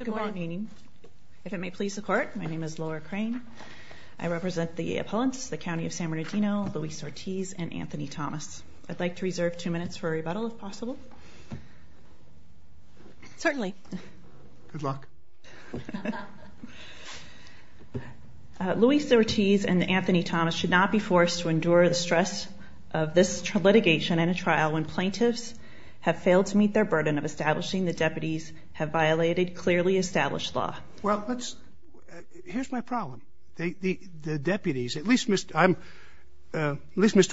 Good morning. If it may please the court, my name is Laura Crane. I represent the opponents, the County of San Bernardino, Luis Ortiz and Anthony Thomas. I'd like to reserve two minutes for a rebuttal if possible. Certainly. Good luck. Luis Ortiz and Anthony Thomas should not be forced to endure the stress of this litigation and a trial when plaintiffs have failed to meet their burden of violated clearly established law. Well, here's my problem. The deputies, at least Mr.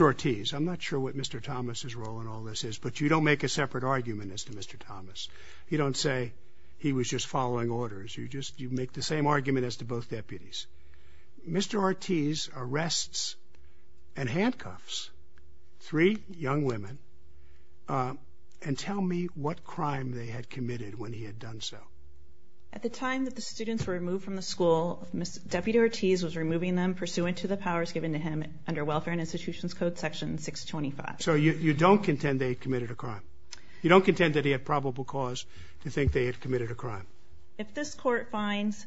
Ortiz, I'm not sure what Mr. Thomas's role in all this is, but you don't make a separate argument as to Mr. Thomas. You don't say he was just following orders. You just you make the same argument as to both deputies. Mr. Ortiz arrests and handcuffs three young women and tell me what crime they had done. So at the time that the students were removed from the school, Mr. Deputy Ortiz was removing them pursuant to the powers given to him under Welfare and Institutions Code Section 625. So you don't contend they committed a crime. You don't contend that he had probable cause to think they had committed a crime. If this court finds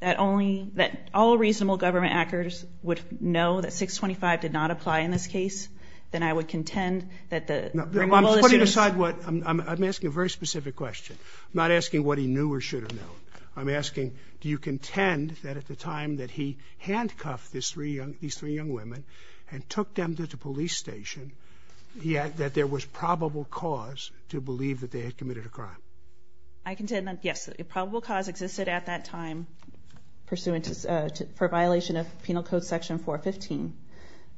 that only that all reasonable government actors would know that 625 did not apply in this case, then I would contend that the removal aside I'm asking a very specific question. I'm not asking what he knew or should have known. I'm asking do you contend that at the time that he handcuffed these three young women and took them to the police station, that there was probable cause to believe that they had committed a crime? I contend that yes, a probable cause existed at that time pursuant to violation of Penal Code Section 415,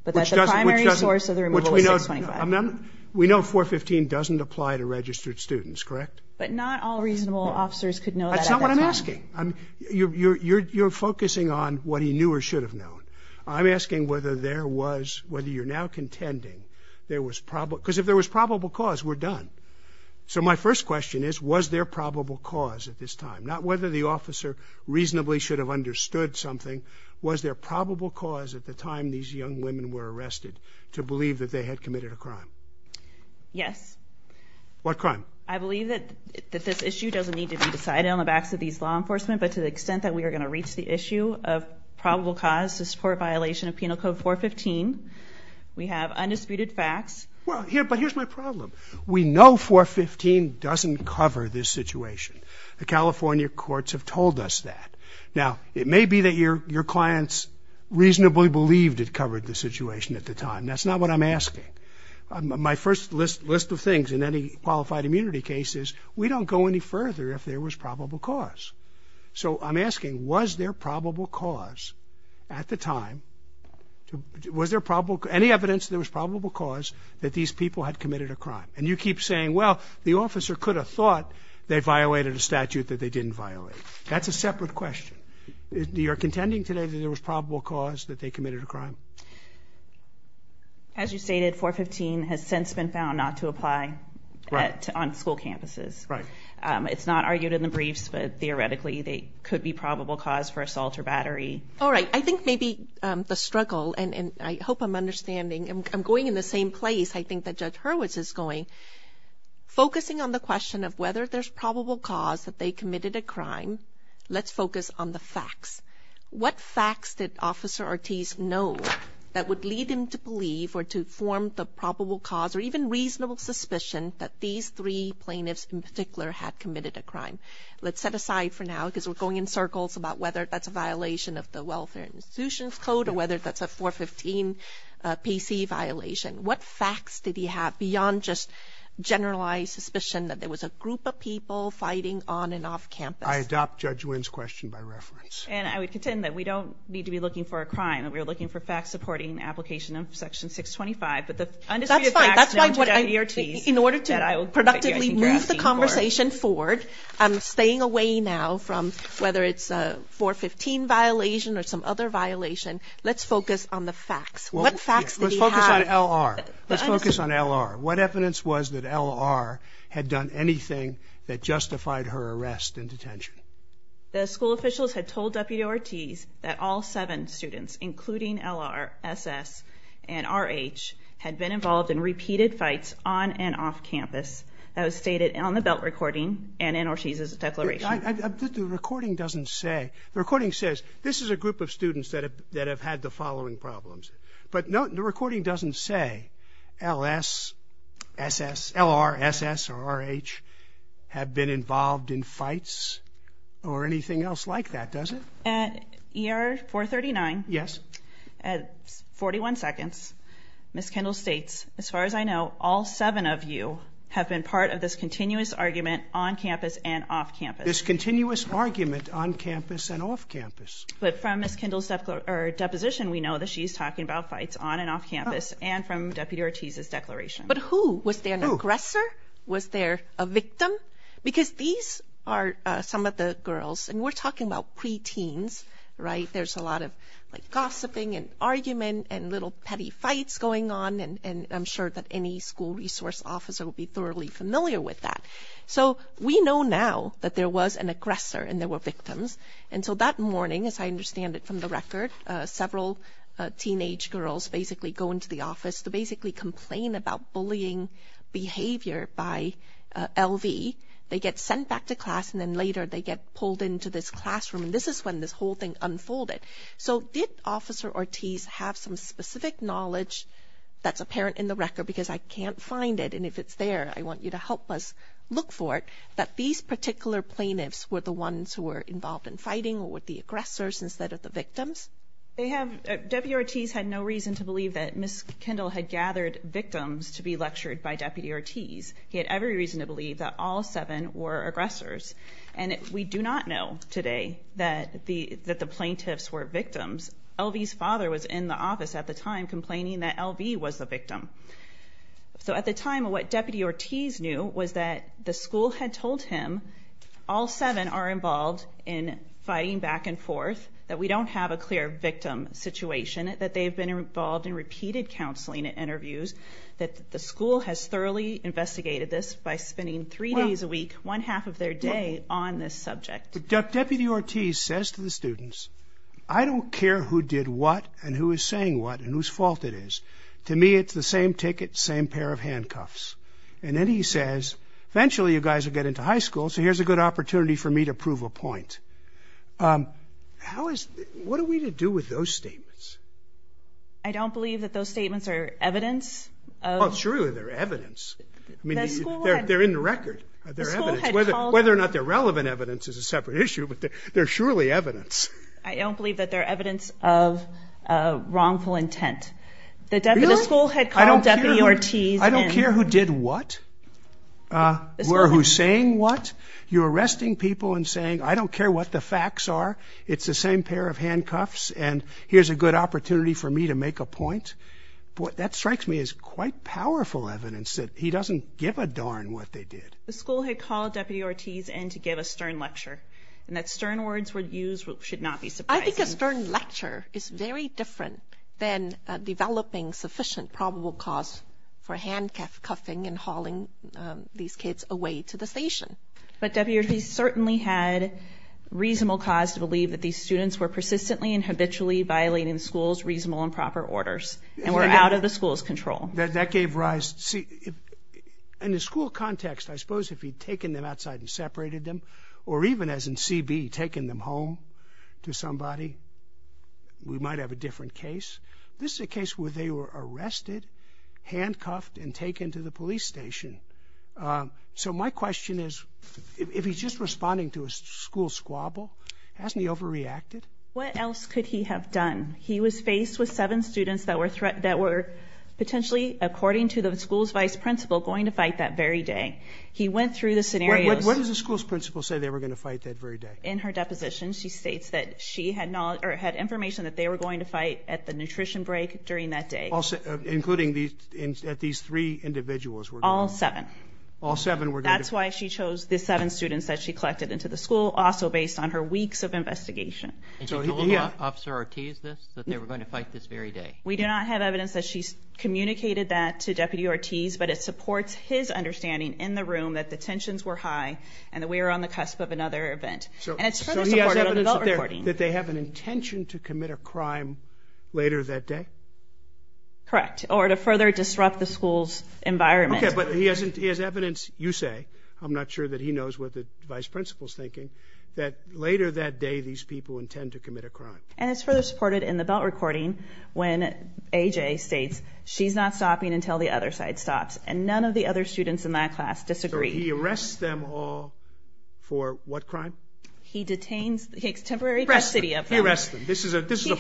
but that the primary source of the removal was 625. We know 415 doesn't apply to registered students, correct? But not all reasonable officers could know that. That's not what I'm asking. You're focusing on what he knew or should have known. I'm asking whether there was, whether you're now contending there was probable, because if there was probable cause, we're done. So my first question is, was there probable cause at this time? Not whether the officer reasonably should have understood something. Was there probable cause at the time these young women were arrested to believe that they had committed a crime? Yes. What crime? I believe that this issue doesn't need to be decided on the backs of these law enforcement, but to the extent that we are going to reach the issue of probable cause to support violation of Penal Code 415, we have undisputed facts. Well, but here's my problem. We know 415 doesn't cover this situation. The California courts have told us that. Now, it may be that your clients reasonably believed it covered the situation at the time. That's not what I'm asking. My first list of things in any qualified immunity case is, we don't go any further if there was probable cause. So I'm asking, was there probable cause at the time? Was there probable, any evidence there was probable cause that these people had committed a crime? And you keep saying, well, the officer could have thought they violated a statute that they didn't violate. That's a separate question. You're contending today that there was probable cause that they committed a crime? As you stated, 415 has since been found not to apply on school campuses. Right. It's not argued in the briefs, but theoretically they could be probable cause for assault or battery. All right. I think maybe the struggle, and I hope I'm understanding, I'm going in the same place I think that Judge Hurwitz is going, focusing on the question of whether there's probable cause that they committed a crime. Let's focus on the facts. What facts did Officer Ortiz know that would lead him to believe or to form the probable cause or even reasonable suspicion that these three plaintiffs in particular had committed a crime? Let's set aside for now because we're going in circles about whether that's a violation of the Welfare Institutions Code or whether that's a 415 PC violation. What facts did he have beyond just generalized suspicion that there was a group of people fighting on and off campus? I adopt Judge Wynn's question by reference. And I would contend that we don't need to be looking for a crime. We're looking for facts supporting the application of Section 625. But the undisputed facts in order to productively move the conversation forward, staying away now from whether it's a 415 violation or some other violation. Let's focus on the facts. What evidence was that L.R. had done anything that justified her arrest and detention? The school officials had told W.O. Ortiz that all seven students including L.R., S.S. and R.H. had been involved in repeated fights on and off campus. That was stated on the belt recording and in Ortiz's declaration. The recording doesn't say. The recording says this is a group of students that have had the S.S., L.R., S.S. or R.H. have been involved in fights or anything else like that, does it? At ER 439. Yes. At 41 seconds, Ms. Kendall states, as far as I know, all seven of you have been part of this continuous argument on campus and off campus. This continuous argument on campus and off campus. But from Ms. Kendall's deposition, we know that she's talking about fights on and off campus. But who? Was there an aggressor? Was there a victim? Because these are some of the girls and we're talking about preteens, right? There's a lot of like gossiping and argument and little petty fights going on. And I'm sure that any school resource officer will be thoroughly familiar with that. So we know now that there was an aggressor and there were victims. And so that morning, as I understand it from the record, several teenage girls basically go into the office to basically complain about bullying behavior by L.V. They get sent back to class and then later they get pulled into this classroom. And this is when this whole thing unfolded. So did Officer Ortiz have some specific knowledge that's apparent in the record? Because I can't find it. And if it's there, I want you to help us look for it. That these particular plaintiffs were the ones who were involved in fighting or with the aggressors instead of the victims. So at the time, Kendall had gathered victims to be lectured by Deputy Ortiz. He had every reason to believe that all seven were aggressors. And we do not know today that the that the plaintiffs were victims. L.V.'s father was in the office at the time complaining that L.V. was the victim. So at the time, what Deputy Ortiz knew was that the school had told him all seven are involved in fighting back and forth, that we don't have a clear victim situation, that they have been involved in repeated counseling and interviews, that the school has thoroughly investigated this by spending three days a week, one half of their day on this subject. Deputy Ortiz says to the students, I don't care who did what and who is saying what and whose fault it is. To me, it's the same ticket, same pair of handcuffs. And then he says, eventually you guys will get into high school. So here's a good opportunity for me to prove a point. Um, how is, what are we to do with those statements? I don't believe that those statements are evidence. Oh, it's true. They're evidence. I mean, they're in the record. Whether or not they're relevant evidence is a separate issue, but they're surely evidence. I don't believe that they're evidence of wrongful intent. The school had called Deputy Ortiz in. I don't care who did what, uh, or who's saying what. You're arresting people and saying, I don't care what the facts are. It's the same pair of handcuffs. And here's a good opportunity for me to make a point. What that strikes me is quite powerful evidence that he doesn't give a darn what they did. The school had called Deputy Ortiz in to give a stern lecture, and that stern words were used should not be surprising. I think a stern lecture is very different than developing sufficient probable cause for handcuffing and hauling these kids away to the station. But Deputy Ortiz certainly had reasonable cause to believe that these students were persistently and habitually violating the school's reasonable and proper orders and were out of the school's control. That gave rise. See, in the school context, I suppose if he'd taken them outside and separated them or even as in C. B. Taking them home to somebody, we might have a different case. This is a case where they were arrested, handcuffed and taken to the police station. Um, so my question is, if he's just responding to a school squabble, hasn't he overreacted? What else could he have done? He was faced with seven students that were threat that were potentially, according to the school's vice principal, going to fight that very day. He went through the scenarios. What does the school's principal say? They were going to fight that very day. In her deposition, she states that she had knowledge or had information that they were going to fight at the nutrition break during that day, including these at these three individuals were all seven. All seven were. That's why she chose the seven students that she collected into the school, also based on her weeks of investigation. Officer Ortiz this that they were going to fight this very day. We do not have evidence that she's communicated that to Deputy Ortiz, but it supports his understanding in the high and that we're on the cusp of another event. And it's that they have an intention to commit a crime later that day, correct? Or to further disrupt the school's environment. But he hasn't. He has evidence. You say I'm not sure that he knows what the vice principal's thinking that later that day, these people intend to commit a crime. And it's further supported in the belt recording when A. J. States she's not stopping until the other side stops. And he arrests them all for what crime? He detains the temporary custody of arrest. This is a this is a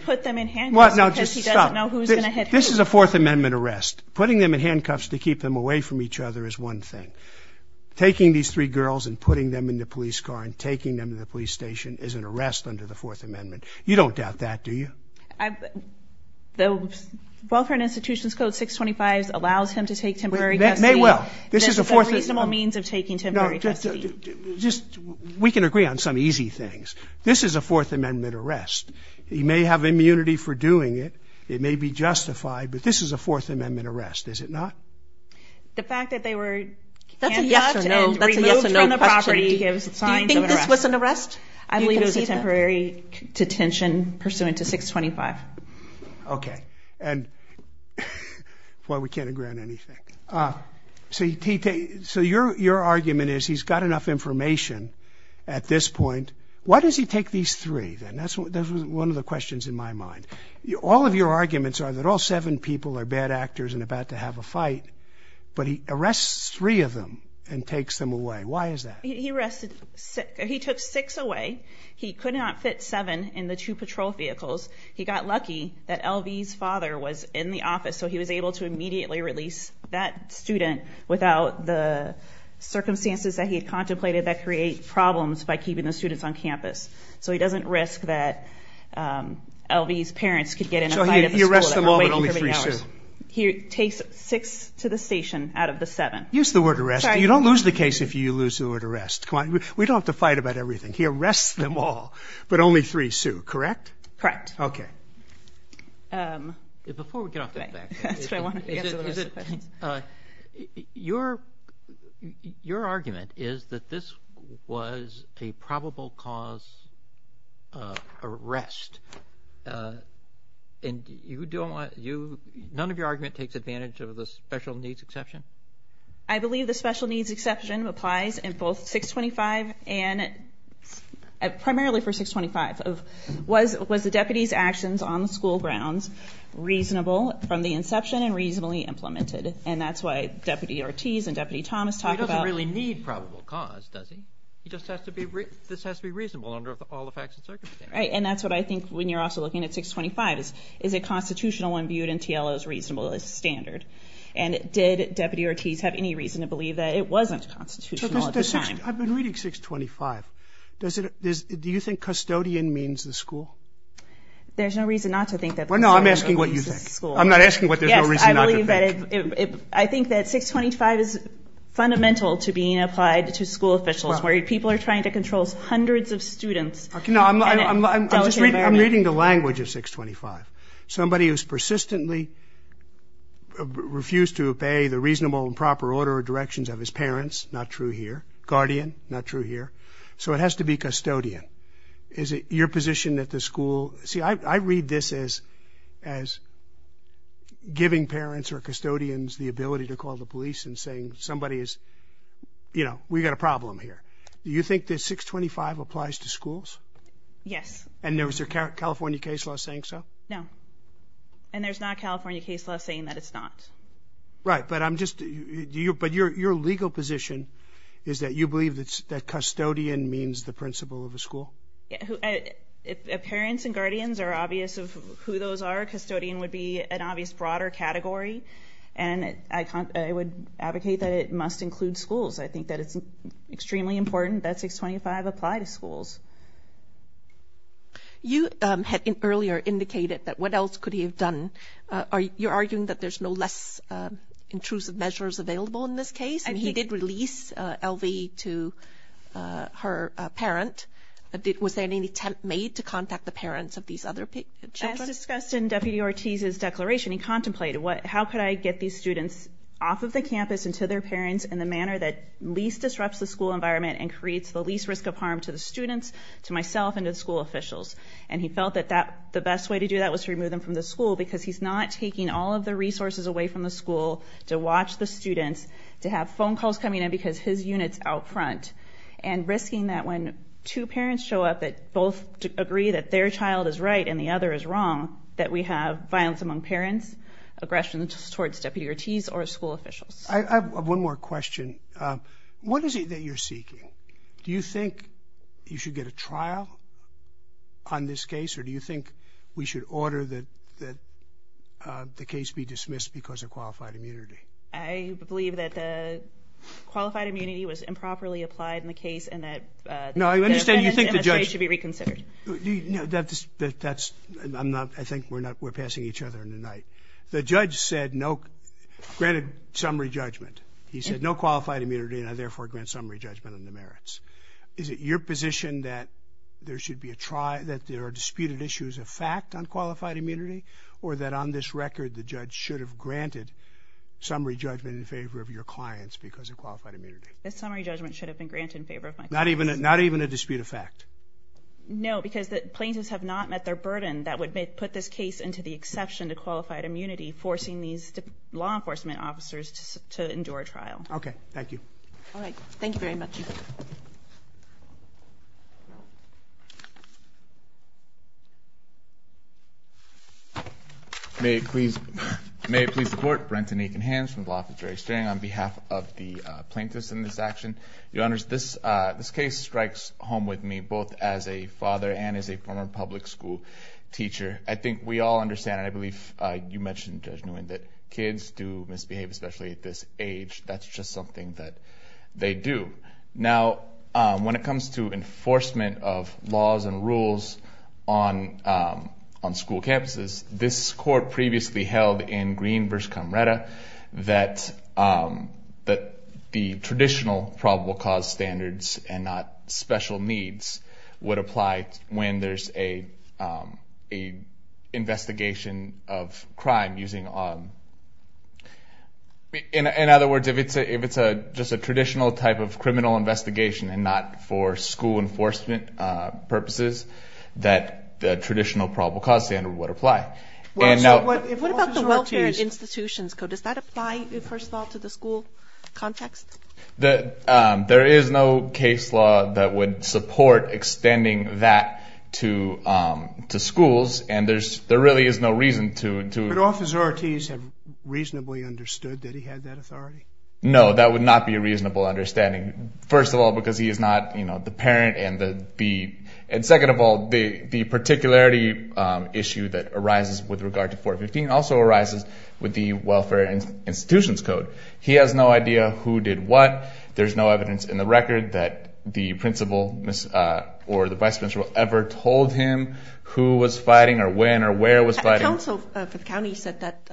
put them in hand. What? No, just know who's gonna hit. This is a Fourth Amendment arrest. Putting them in handcuffs to keep them away from each other is one thing. Taking these three girls and putting them in the police car and taking them to the police station is an arrest under the Fourth Amendment. You don't doubt that, do you? The welfare institutions code 6 25 allows him to take temporary. Well, this is a reasonable means of taking temporary custody. Just we can agree on some easy things. This is a Fourth Amendment arrest. He may have immunity for doing it. It may be justified, but this is a Fourth Amendment arrest, is it not? The fact that they were removed from the property gives signs of an arrest. I we can't agree on anything. Uh, so you're your argument is he's got enough information at this point. Why does he take these three? Then that's one of the questions in my mind. All of your arguments are that all seven people are bad actors and about to have a fight, but he arrests three of them and takes them away. Why is that? He rested sick. He took six away. He could not fit seven in the two patrol vehicles. He got lucky that L. V. S. Father was in the office, so he was able to immediately release that student without the circumstances that he had contemplated that create problems by keeping the students on campus. So he doesn't risk that, um, L. V. S. Parents could get in a fight. Arrest them all, but only three. So he takes six to the station out of the seven. Use the word arrest. You don't lose the case if you lose the word arrest. We don't have to fight about everything here. Rest them all, but only three sue, correct? Correct. Okay. Um, before we get off the back, I want to, uh, your your argument is that this was a probable cause arrest. Uh, and you don't want you. None of your argument takes advantage of the special needs exception. I believe the special needs exception applies in both 625 and primarily for 625. Was was the deputy's actions on the school grounds reasonable from the inception and reasonably implemented? And that's why Deputy Ortiz and Deputy Thomas talk about really need probable cause, does he? He just has to be. This has to be reasonable under all the facts and circumstances, right? And that's what I think when you're also looking at 625 is is a constitutional one viewed in T. L. O. S. Reasonable is standard. And did Deputy Ortiz have any reason to believe that it wasn't constitutional I've been reading 6 25. Does it? Do you think custodian means the school? There's no reason not to think that. Well, no, I'm asking what you think. I'm not asking what there's no reason. I believe that I think that 6 25 is fundamental to being applied to school officials where people are trying to control hundreds of students. I'm just reading the language of 6 25. Somebody who's persistently refused to obey the reasonable and proper order directions of his parents. Not true here. Guardian. Not true here. So it has to be custodian. Is it your position that the school? See, I read this is as giving parents or custodians the ability to call the police and saying somebody is, you know, we've got a problem here. Do you think that 6 25 applies to schools? Yes. And there was a California case law saying so? No. And there's not California case law saying that it's not right. But I'm asking what your position is that you believe that custodian means the principal of the school. Parents and guardians are obvious of who those are. Custodian would be an obvious broader category. And I would advocate that it must include schools. I think that it's extremely important that 6 25 apply to schools. You had earlier indicated that what else could he have done? Are you arguing that there's no less intrusive measures available in this case? And he did release LV to her parent. Was there any attempt made to contact the parents of these other people? As discussed in Deputy Ortiz's declaration, he contemplated what? How could I get these students off of the campus and to their parents in the manner that least disrupts the school environment and creates the least risk of harm to the students to myself into the school officials. And he felt that that the best way to do that was to remove them from the school because he's not taking all of the resources away from the school to watch the students to have phone calls coming in because his units out front and risking that when two parents show up that both agree that their child is right and the other is wrong, that we have violence among parents aggressions towards deputy Ortiz or school officials. I have one more question. What is it that you're seeking? Do you think you should get a trial on this case? Or do you think we should order that that the case be dismissed because of qualified immunity? I believe that the qualified immunity was improperly applied in the case and that no, I understand. You think the judge should be reconsidered? That's I'm not. I think we're not. We're passing each other in the night. The judge said no granted summary judgment. He said no qualified immunity and therefore grant summary judgment on the merits. Is it your position that there should be a try that there are disputed issues of fact on qualified immunity or that on this record, the judge should have granted summary judgment in favor of your clients because of qualified immunity. The summary judgment should have been granted in favor of not even not even a dispute of fact. No, because the plaintiffs have not met their burden. That would put this case into the exception to qualified immunity, forcing these law enforcement officers to endure trial. Okay, thank you. All right. Thank you very much. Thank you. May it please. May it please the court. Brent and Aiken Hands from the Law Office of Jury Steering on behalf of the plaintiffs in this action. Your honors, this case strikes home with me both as a father and as a former public school teacher. I think we all understand. I believe you mentioned, Judge Nguyen, that kids do misbehave, especially at this age. That's just something that they do. Now, when it comes to enforcement of laws and rules on on school campuses, this court previously held in Green v. Camreta that that the traditional probable cause standards and not special needs would apply when there's a a investigation of crime using... In other words, if it's a just a traditional type of criminal investigation and not for school enforcement purposes, that the traditional probable cause standard would apply. What about the Welfare Institutions Code? Does that apply, first of all, to the school context? There is no case law that would support extending that to schools, and there really is no reason to... Would Officer Ortiz have reasonably understood that he had that authority? No, that would not be a reasonable understanding, first of all, because he is not the parent and the... And second of all, the particularity issue that arises with regard to 415 also arises with the Welfare Institutions Code. He has no idea who did what. There's no evidence in the record that the principal or the vice principal ever told him who was fighting or when or where was fighting. The council for the county said that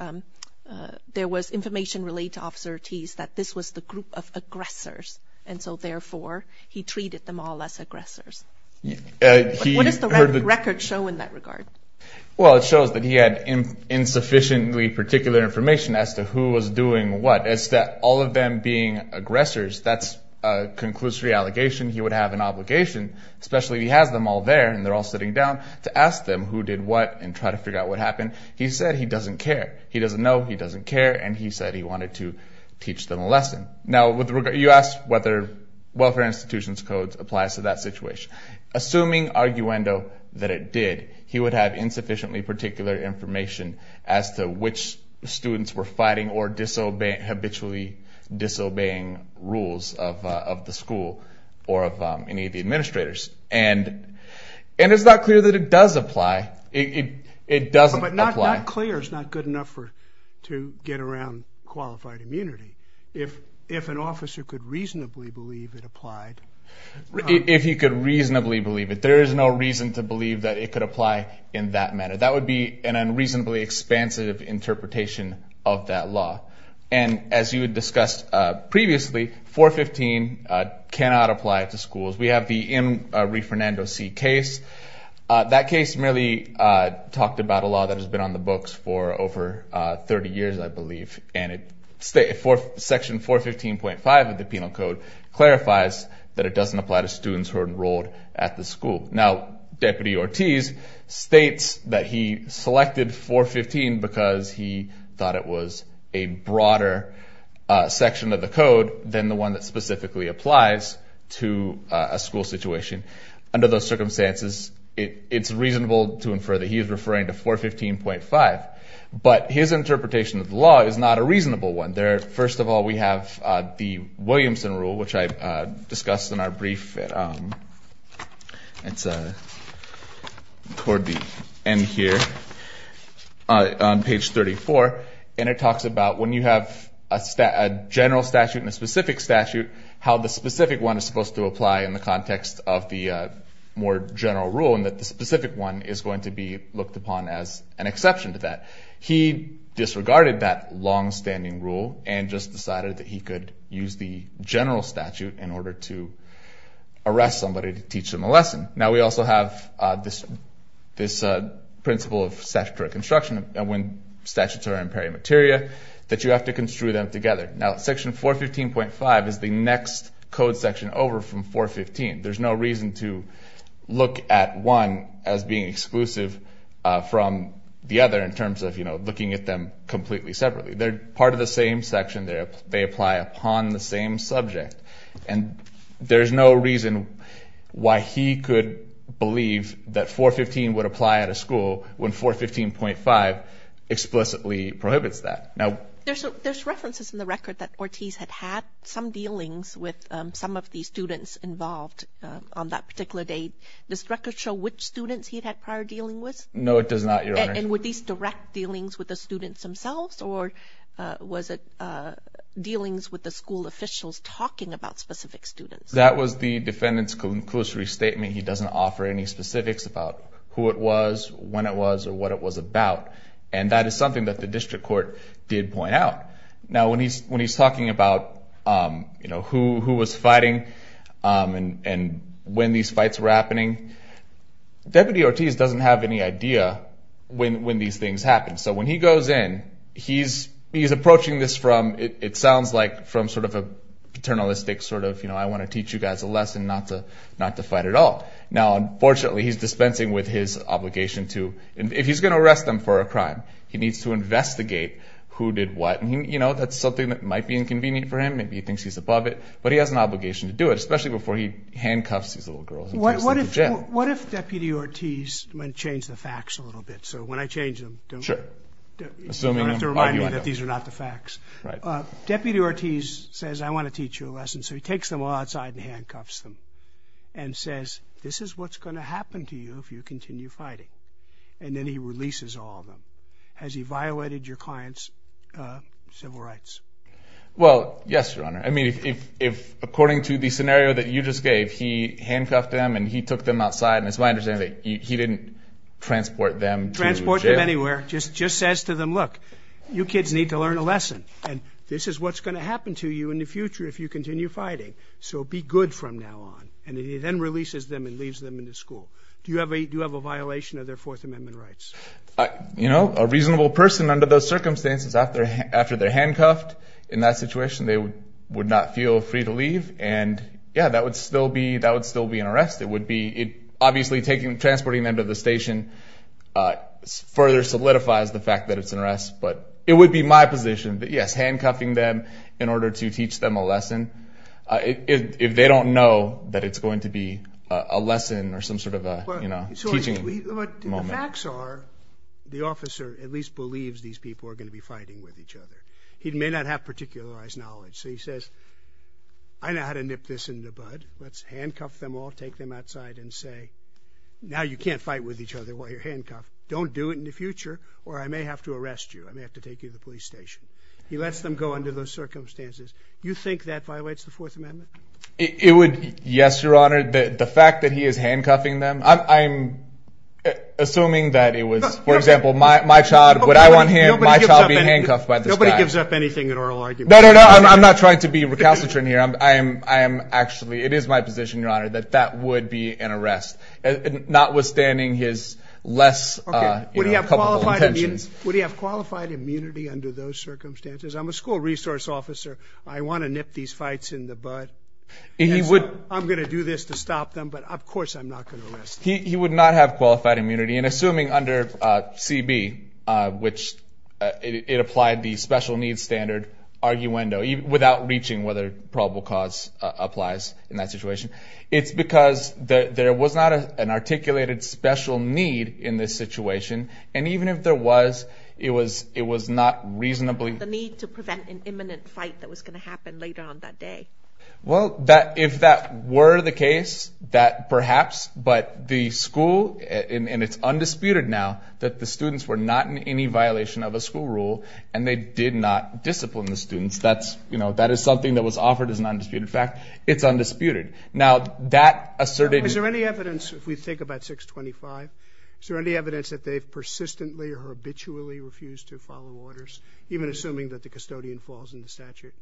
there was information related to Officer Ortiz that this was the group of aggressors, and so therefore, he treated them all as aggressors. What does the record show in that regard? Well, it shows that he had insufficiently particular information as to who was doing what. It's that all of them being aggressors, that's a conclusory allegation. He would have an obligation, especially if he has them all there and they're all sitting down, to ask them who did what and try to figure out what happened. He said he doesn't care. He doesn't know, he doesn't care, and he said he wanted to teach them a lesson. Now, you asked whether Welfare Institutions Code applies to that situation. Assuming arguendo that it did, he would have insufficiently particular information as to which students were fighting or habitually disobeying rules of the school or of any of the administrators. And it's not clear that it does apply. It doesn't apply. But not clear is not good enough to get around qualified immunity. If an officer could reasonably believe it applied... If he could reasonably believe it, there is no reason to believe that it could apply in that manner. That would be an unreasonably expansive interpretation of that law. And as you had discussed previously, 415 cannot apply to schools. We have the M. Riefernando C. case. That case merely talked about a law that has been on the books for over 30 years, I believe. And it... Section 415.5 of the Penal Code clarifies that it doesn't apply to students who are enrolled at the school. Now, Deputy Ortiz states that he selected 415 because he thought it was a broader section of the code than the one that specifically applies to a school situation. Under those circumstances, it's reasonable to infer that he is referring to 415.5. But his interpretation of the law is not a reasonable one. There... First of all, we have the Williamson Rule, which I discussed in our brief. It's toward the end here, on page 34. And it talks about when you have a general statute and a specific statute, how the specific one is supposed to apply in the context of the more general rule, and that the specific one is going to be looked upon as an exception to that. He disregarded that long standing rule and just decided that he could use the general statute in order to arrest somebody to teach them a lesson. Now, we also have this principle of statutory construction, and when statutes are in peri materia, that you have to construe them together. Now, Section 415.5 is the next code section over from 415. There's no reason to look at one as being exclusive from the other in terms of looking at them completely separately. They're part of the same section. They apply upon the same subject. And there's no reason why he could believe that 415 would apply at a school when 415.5 explicitly prohibits that. Now... There's references in the record that some of the students involved on that particular date. Does this record show which students he'd had prior dealing with? No, it does not, Your Honor. And were these direct dealings with the students themselves, or was it dealings with the school officials talking about specific students? That was the defendant's conclusory statement. He doesn't offer any specifics about who it was, when it was, or what it was about. And that is something that the district court did point out. Now, when he's talking about who was fighting and when these fights were happening, Deputy Ortiz doesn't have any idea when these things happened. So when he goes in, he's approaching this from... It sounds like from sort of a paternalistic sort of, you know, I wanna teach you guys a lesson not to fight at all. Now, unfortunately, he's dispensing with his obligation to... If he's gonna arrest them for a crime, he needs to that's something that might be inconvenient for him. Maybe he thinks he's above it, but he has an obligation to do it, especially before he handcuffs these little girls and takes them to jail. What if Deputy Ortiz... I'm gonna change the facts a little bit. So when I change them, don't... Sure. Assuming... You don't have to remind me that these are not the facts. Right. Deputy Ortiz says, I wanna teach you a lesson. So he takes them all outside and handcuffs them, and says, this is what's gonna happen to you if you continue fighting. And then he releases all of them. Has he violated your client's civil rights? Well, yes, Your Honor. I mean, if according to the scenario that you just gave, he handcuffed them and he took them outside, and it's my understanding that he didn't transport them to jail. Transport them anywhere. Just says to them, look, you kids need to learn a lesson, and this is what's gonna happen to you in the future if you continue fighting. So be good from now on. And he then releases them and leaves them in the school. Do you have a violation of their Fourth Amendment rights? You know, a reasonable person under those circumstances after they're handcuffed, in that situation, they would not feel free to leave. And yeah, that would still be an arrest. It would be... Obviously, transporting them to the station further solidifies the fact that it's an arrest, but it would be my position that, yes, handcuffing them in order to teach them a lesson, if they don't know that it's going to be a lesson or some sort of a teaching moment. But the facts are, the officer at least believes these people are gonna be fighting with each other. He may not have particularized knowledge. So he says, I know how to nip this in the bud. Let's handcuff them all, take them outside and say, now you can't fight with each other while you're handcuffed. Don't do it in the future or I may have to arrest you. I may have to take you to the police station. He lets them go under those circumstances. You think that violates the Fourth Amendment? It would... Yes, Your Honor. The fact that he is handcuffing them, I'm assuming that it was, for example, my child, would I want him, my child being handcuffed by this guy. Nobody gives up anything in oral argument. No, no, no. I'm not trying to be recalcitrant here. I'm actually... It is my position, Your Honor, that that would be an arrest, notwithstanding his less... Okay. Would he have qualified immunity under those circumstances? I'm a school resource officer. I wanna nip these fights in the bud. He would... I'm gonna do this to stop them, but of course I'm not gonna arrest him. He would not have qualified immunity. And assuming under CB, which it applied the special needs standard arguendo, without reaching whether probable cause applies in that situation, it's because there was not an articulated special need in this situation. And even if there was, it was not reasonably... The need to prevent an imminent fight that was gonna happen later on that day. Well, if that were the case, that perhaps, but the school... And it's undisputed now that the students were not in any violation of a school rule, and they did not discipline the students. That is something that was offered as an undisputed fact. It's undisputed. Now, that asserted... Is there any evidence, if we think about 625, is there any evidence that they've persistently or habitually refused to follow orders, even assuming that the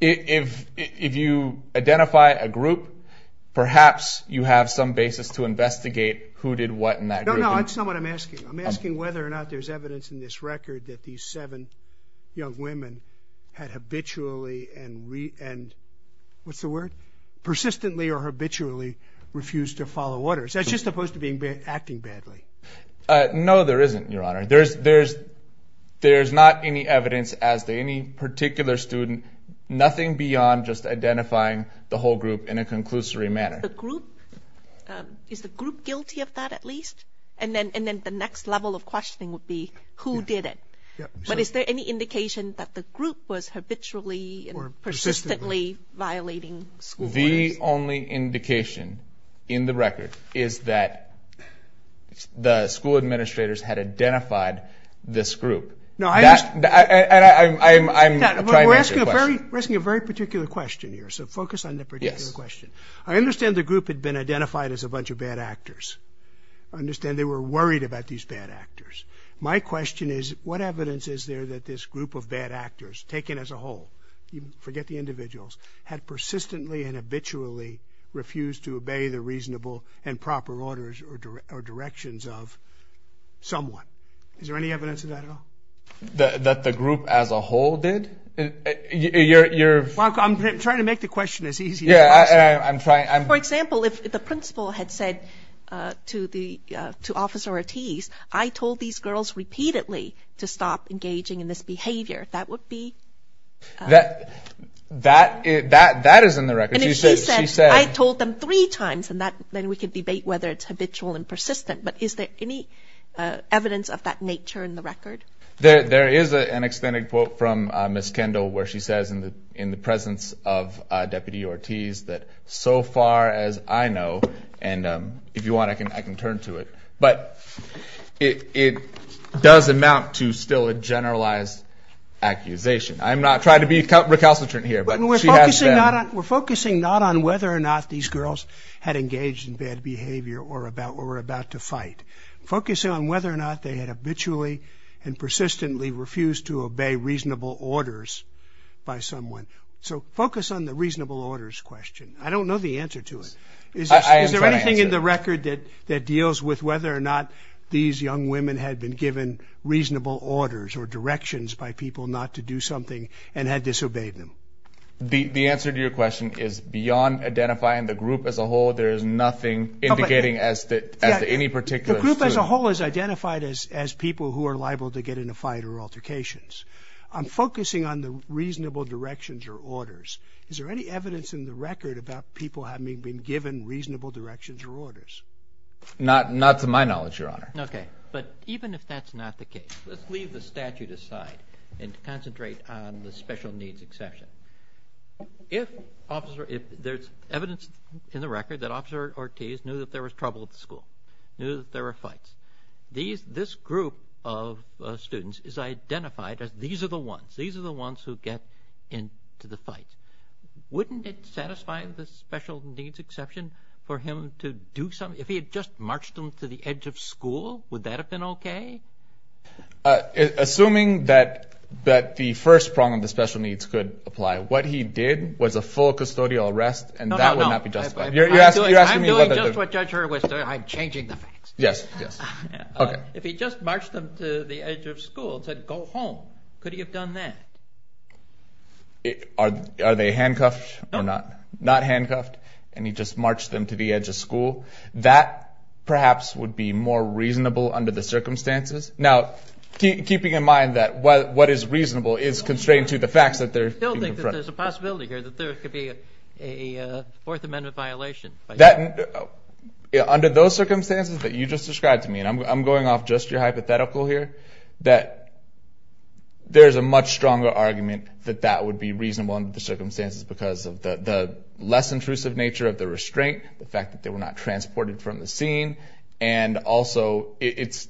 if you identify a group, perhaps you have some basis to investigate who did what in that group. No, no, that's not what I'm asking. I'm asking whether or not there's evidence in this record that these seven young women had habitually and... What's the word? Persistently or habitually refused to follow orders. That's just opposed to being... Acting badly. No, there isn't, Your Honor. There's not any evidence as to any particular student. Nothing beyond just identifying the whole group in a conclusory manner. The group... Is the group guilty of that, at least? And then the next level of questioning would be, who did it? But is there any indication that the group was habitually or persistently violating school orders? The only indication in the record is that the school administrators had identified this group. No, I... And I'm trying to answer your question. We're asking a very particular question here, so focus on that particular question. Yes. I understand the group had been identified as a bunch of bad actors. I understand they were worried about these bad actors. My question is, what evidence is there that this group of bad actors, taken as a whole, forget the individuals, had persistently and habitually refused to obey the reasonable and proper orders or directions of someone? Is there any evidence of that at all? That the group as a whole did? You're... I'm trying to make the question as easy as possible. Yeah, I'm trying... For example, if the principal had said to Officer Ortiz, I told these girls repeatedly to stop engaging in this behavior, that would be... That is in the record. And if she said, I told them three times, and then we could debate whether it's habitual and persistent, but is there any evidence of that nature in the record? There is an extended quote from Ms. Kendall, where she says in the presence of Deputy Ortiz, that so far as I know, and if you want, I can turn to it, but it does amount to still a generalized accusation. I'm not trying to be recalcitrant here, but she has said... We're focusing not on whether or not these girls had engaged in bad behavior or about to fight, focusing on whether or not they had habitually and persistently refused to obey reasonable orders by someone. So focus on the reasonable orders question. I don't know the answer to it. Is there anything in the record that deals with whether or not these young women had been given reasonable orders or directions by people not to do something and had disobeyed them? The answer to your question is beyond identifying the group as a whole. The group as a whole is identified as people who are liable to get in a fight or altercations. I'm focusing on the reasonable directions or orders. Is there any evidence in the record about people having been given reasonable directions or orders? Not to my knowledge, Your Honor. Okay. But even if that's not the case, let's leave the statute aside and concentrate on the special needs exception. If there's evidence in the record that Officer Ortiz knew that there was trouble at the school, knew that there were fights, this group of students is identified as these are the ones, these are the ones who get into the fight. Wouldn't it satisfy the special needs exception for him to do something? If he had just marched them to the edge of school, would that have been okay? Assuming that the first prong of the special needs could apply, what he did was a full custodial arrest and that would not be justified. You're asking me whether... I'm doing just what Judge Hurwitz did. I'm changing the facts. Yes, yes. Okay. If he just marched them to the edge of school and said, go home, could he have done that? Are they handcuffed or not? No. Not handcuffed and he just marched them to the edge of school, that perhaps would be more reasonable under the circumstances. Now, keeping in mind that what is reasonable is constrained to the facts that they're being confronted. I still think that there's a possibility here that there could be a Fourth Amendment violation. Under those circumstances that you just described to me, and I'm going off just your hypothetical here, that there's a much stronger argument that that would be reasonable under the circumstances because of the less intrusive nature of the restraint, the fact that they were not transported from the scene. And also,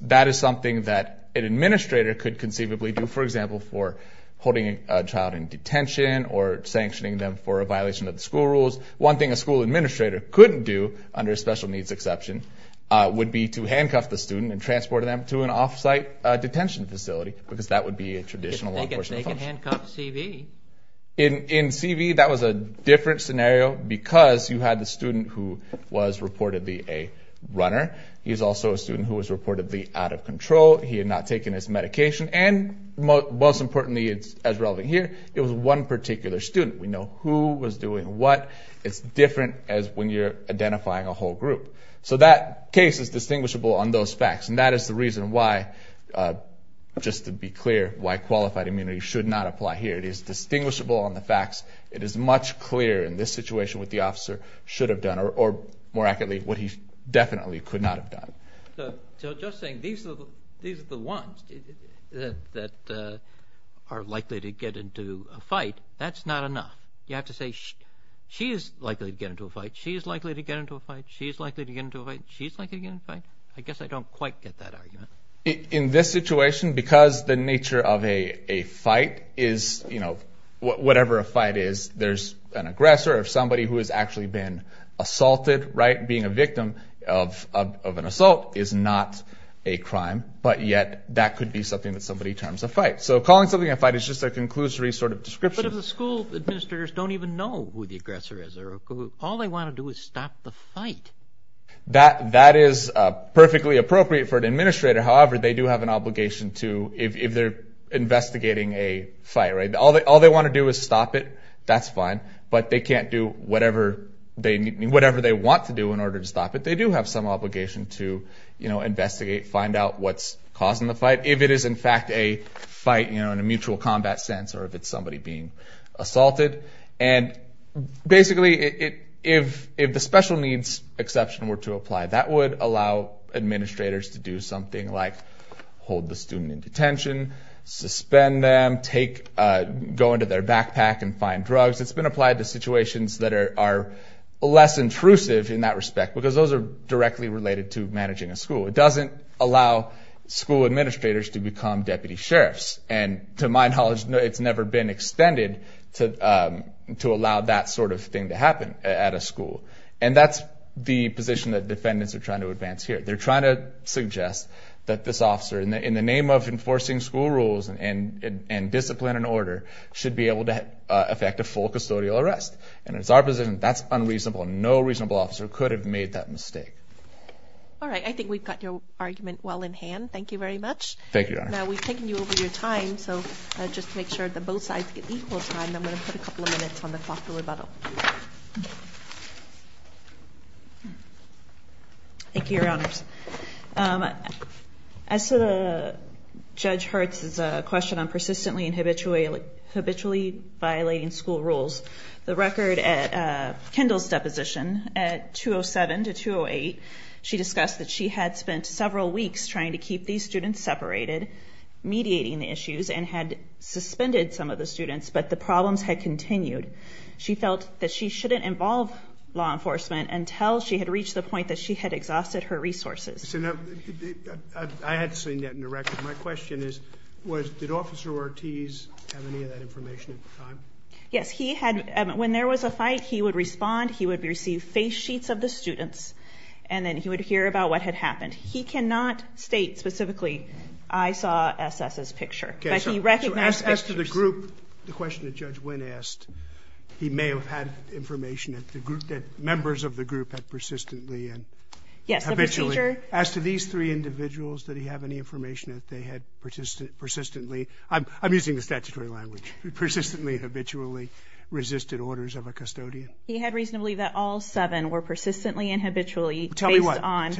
that is something that an administrator could conceivably do, for example, for holding a child in detention or sanctioning them for a violation of the school rules. One thing a school administrator couldn't do under a special needs exception would be to handcuff the student and transport them to an offsite detention facility because that would be a traditional law enforcement function. They can handcuff CV. In CV, that was a different scenario because you had the student who was reportedly a runner. He's also a student who was reportedly out of control. He had not taken his medication. And most importantly, as relevant here, it was one particular student. We know who was doing what. It's different as when you're identifying a whole group. So that case is distinguishable on those facts. And that is the reason why, just to be clear, why qualified immunity should not apply here. It is distinguishable on the facts. It is much clearer in this situation what the officer should have done, or more accurately, what he definitely could not have done. So just saying these are the ones that are likely to get into a fight, that's not enough. You have to say she is likely to get into a fight. She is likely to get into a fight. She is likely to get into a fight. She's likely to get into a fight. I guess I don't quite get that argument. In this situation, because the nature of a fight is, you know, whatever a fight is, there's an aggressor or somebody who has actually been assaulted, right, being a victim of an assault is not a crime. But yet, that could be something that somebody terms a fight. So calling something a fight is just a conclusory sort of description. But if the school administrators don't even know who the aggressor is, all they want to do is stop the fight. That is perfectly appropriate for an administrator. However, they do have an obligation to, if they're investigating a fight, right, all they want to do is whatever they want to do in order to stop it. They do have some obligation to, you know, investigate, find out what's causing the fight, if it is, in fact, a fight, you know, in a mutual combat sense or if it's somebody being assaulted. And basically, if the special needs exception were to apply, that would allow administrators to do something like hold the student in detention, suspend them, take, go into their backpack and find drugs. It's been applied to situations that are less intrusive in that respect, because those are directly related to managing a school. It doesn't allow school administrators to become deputy sheriffs. And to my knowledge, it's never been extended to allow that sort of thing to happen at a school. And that's the position that defendants are trying to advance here. They're trying to suggest that this officer, in the name of enforcing school rules and discipline and order, should be able to affect a full custodial arrest. And it's our position that's unreasonable. No reasonable officer could have made that mistake. All right. I think we've got your argument well in hand. Thank you very much. Thank you, Your Honor. Now, we've taken you over your time. So just to make sure that both sides get equal time, I'm going to put a couple of minutes on the clock for rebuttal. Thank you, Your Honors. As to Judge Hertz's question on persistently habitually violating school rules, the record at Kendall's deposition at 207 to 208, she discussed that she had spent several weeks trying to keep these students separated, mediating the issues, and had suspended some of the students, but the problems had continued. She felt that she shouldn't involve law enforcement until she had reached the point that she had exhausted her resources. So now, I had seen that in the record. My question is, did Officer Ortiz have any of that information at the time? Yes, he had. When there was a fight, he would respond, he would receive face sheets of the students, and then he would hear about what had happened. He cannot state specifically, I saw S.S.'s picture. Okay, so as to the group, the question that Judge Nguyen asked, he may have had information that members of the group had persistently and habitually... Yes, of the teacher. As to these three individuals, did he have any information that they had persistently, I'm using the statutory language, persistently and habitually resisted orders of a custodian? He had reason to believe that all seven were persistently and habitually based on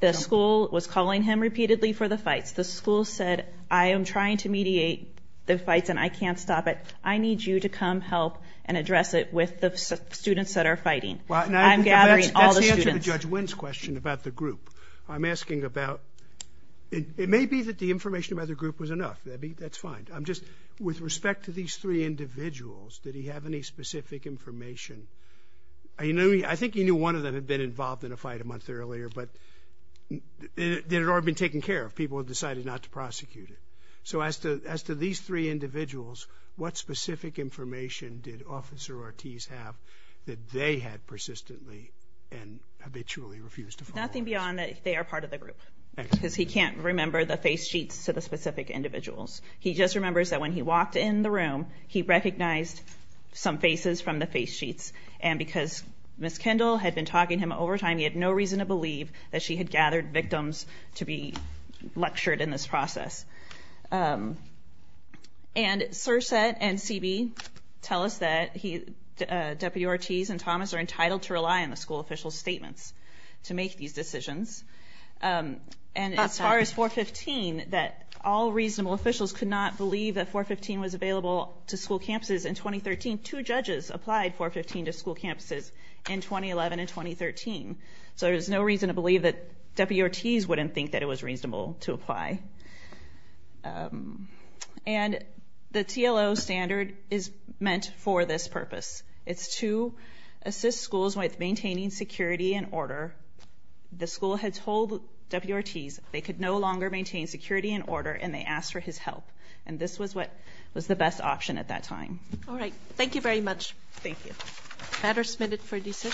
the school was calling him repeatedly for the fights. The school said, I am trying to mediate the fights and I can't stop it. I need you to come help and address it with the students that are fighting. I'm gathering all the information. To answer Judge Nguyen's question about the group, I'm asking about, it may be that the information about the group was enough. That's fine. I'm just, with respect to these three individuals, did he have any specific information? I think he knew one of them had been involved in a fight a month earlier, but they had already been taken care of. People had decided not to prosecute it. So as to these three individuals, what specific information did Officer Ortiz have that they had persistently and habitually refused to follow? Nothing beyond that they are part of the group because he can't remember the face sheets to the specific individuals. He just remembers that when he walked in the room, he recognized some faces from the face sheets. And because Miss Kendall had been talking to him over time, he had no reason to believe that she had gathered victims to be lectured in this process. And CSRSAT and CB tell us that Deputy Ortiz and Thomas are entitled to rely on the school official's statements to make these decisions. And as far as 415, that all reasonable officials could not believe that 415 was available to school campuses in 2013. Two judges applied 415 to school campuses in 2011 and 2013. So there's no reason to believe that Deputy Ortiz wouldn't think that it was reasonable to apply. And the TLO standard is meant for this purpose. It's to assist schools with maintaining security and order. The school had told Deputy Ortiz they could no longer maintain security and order, and they asked for his help. And this was what was the best option at that time. All right. Thank you very much. Thank you. Matter submitted for decision.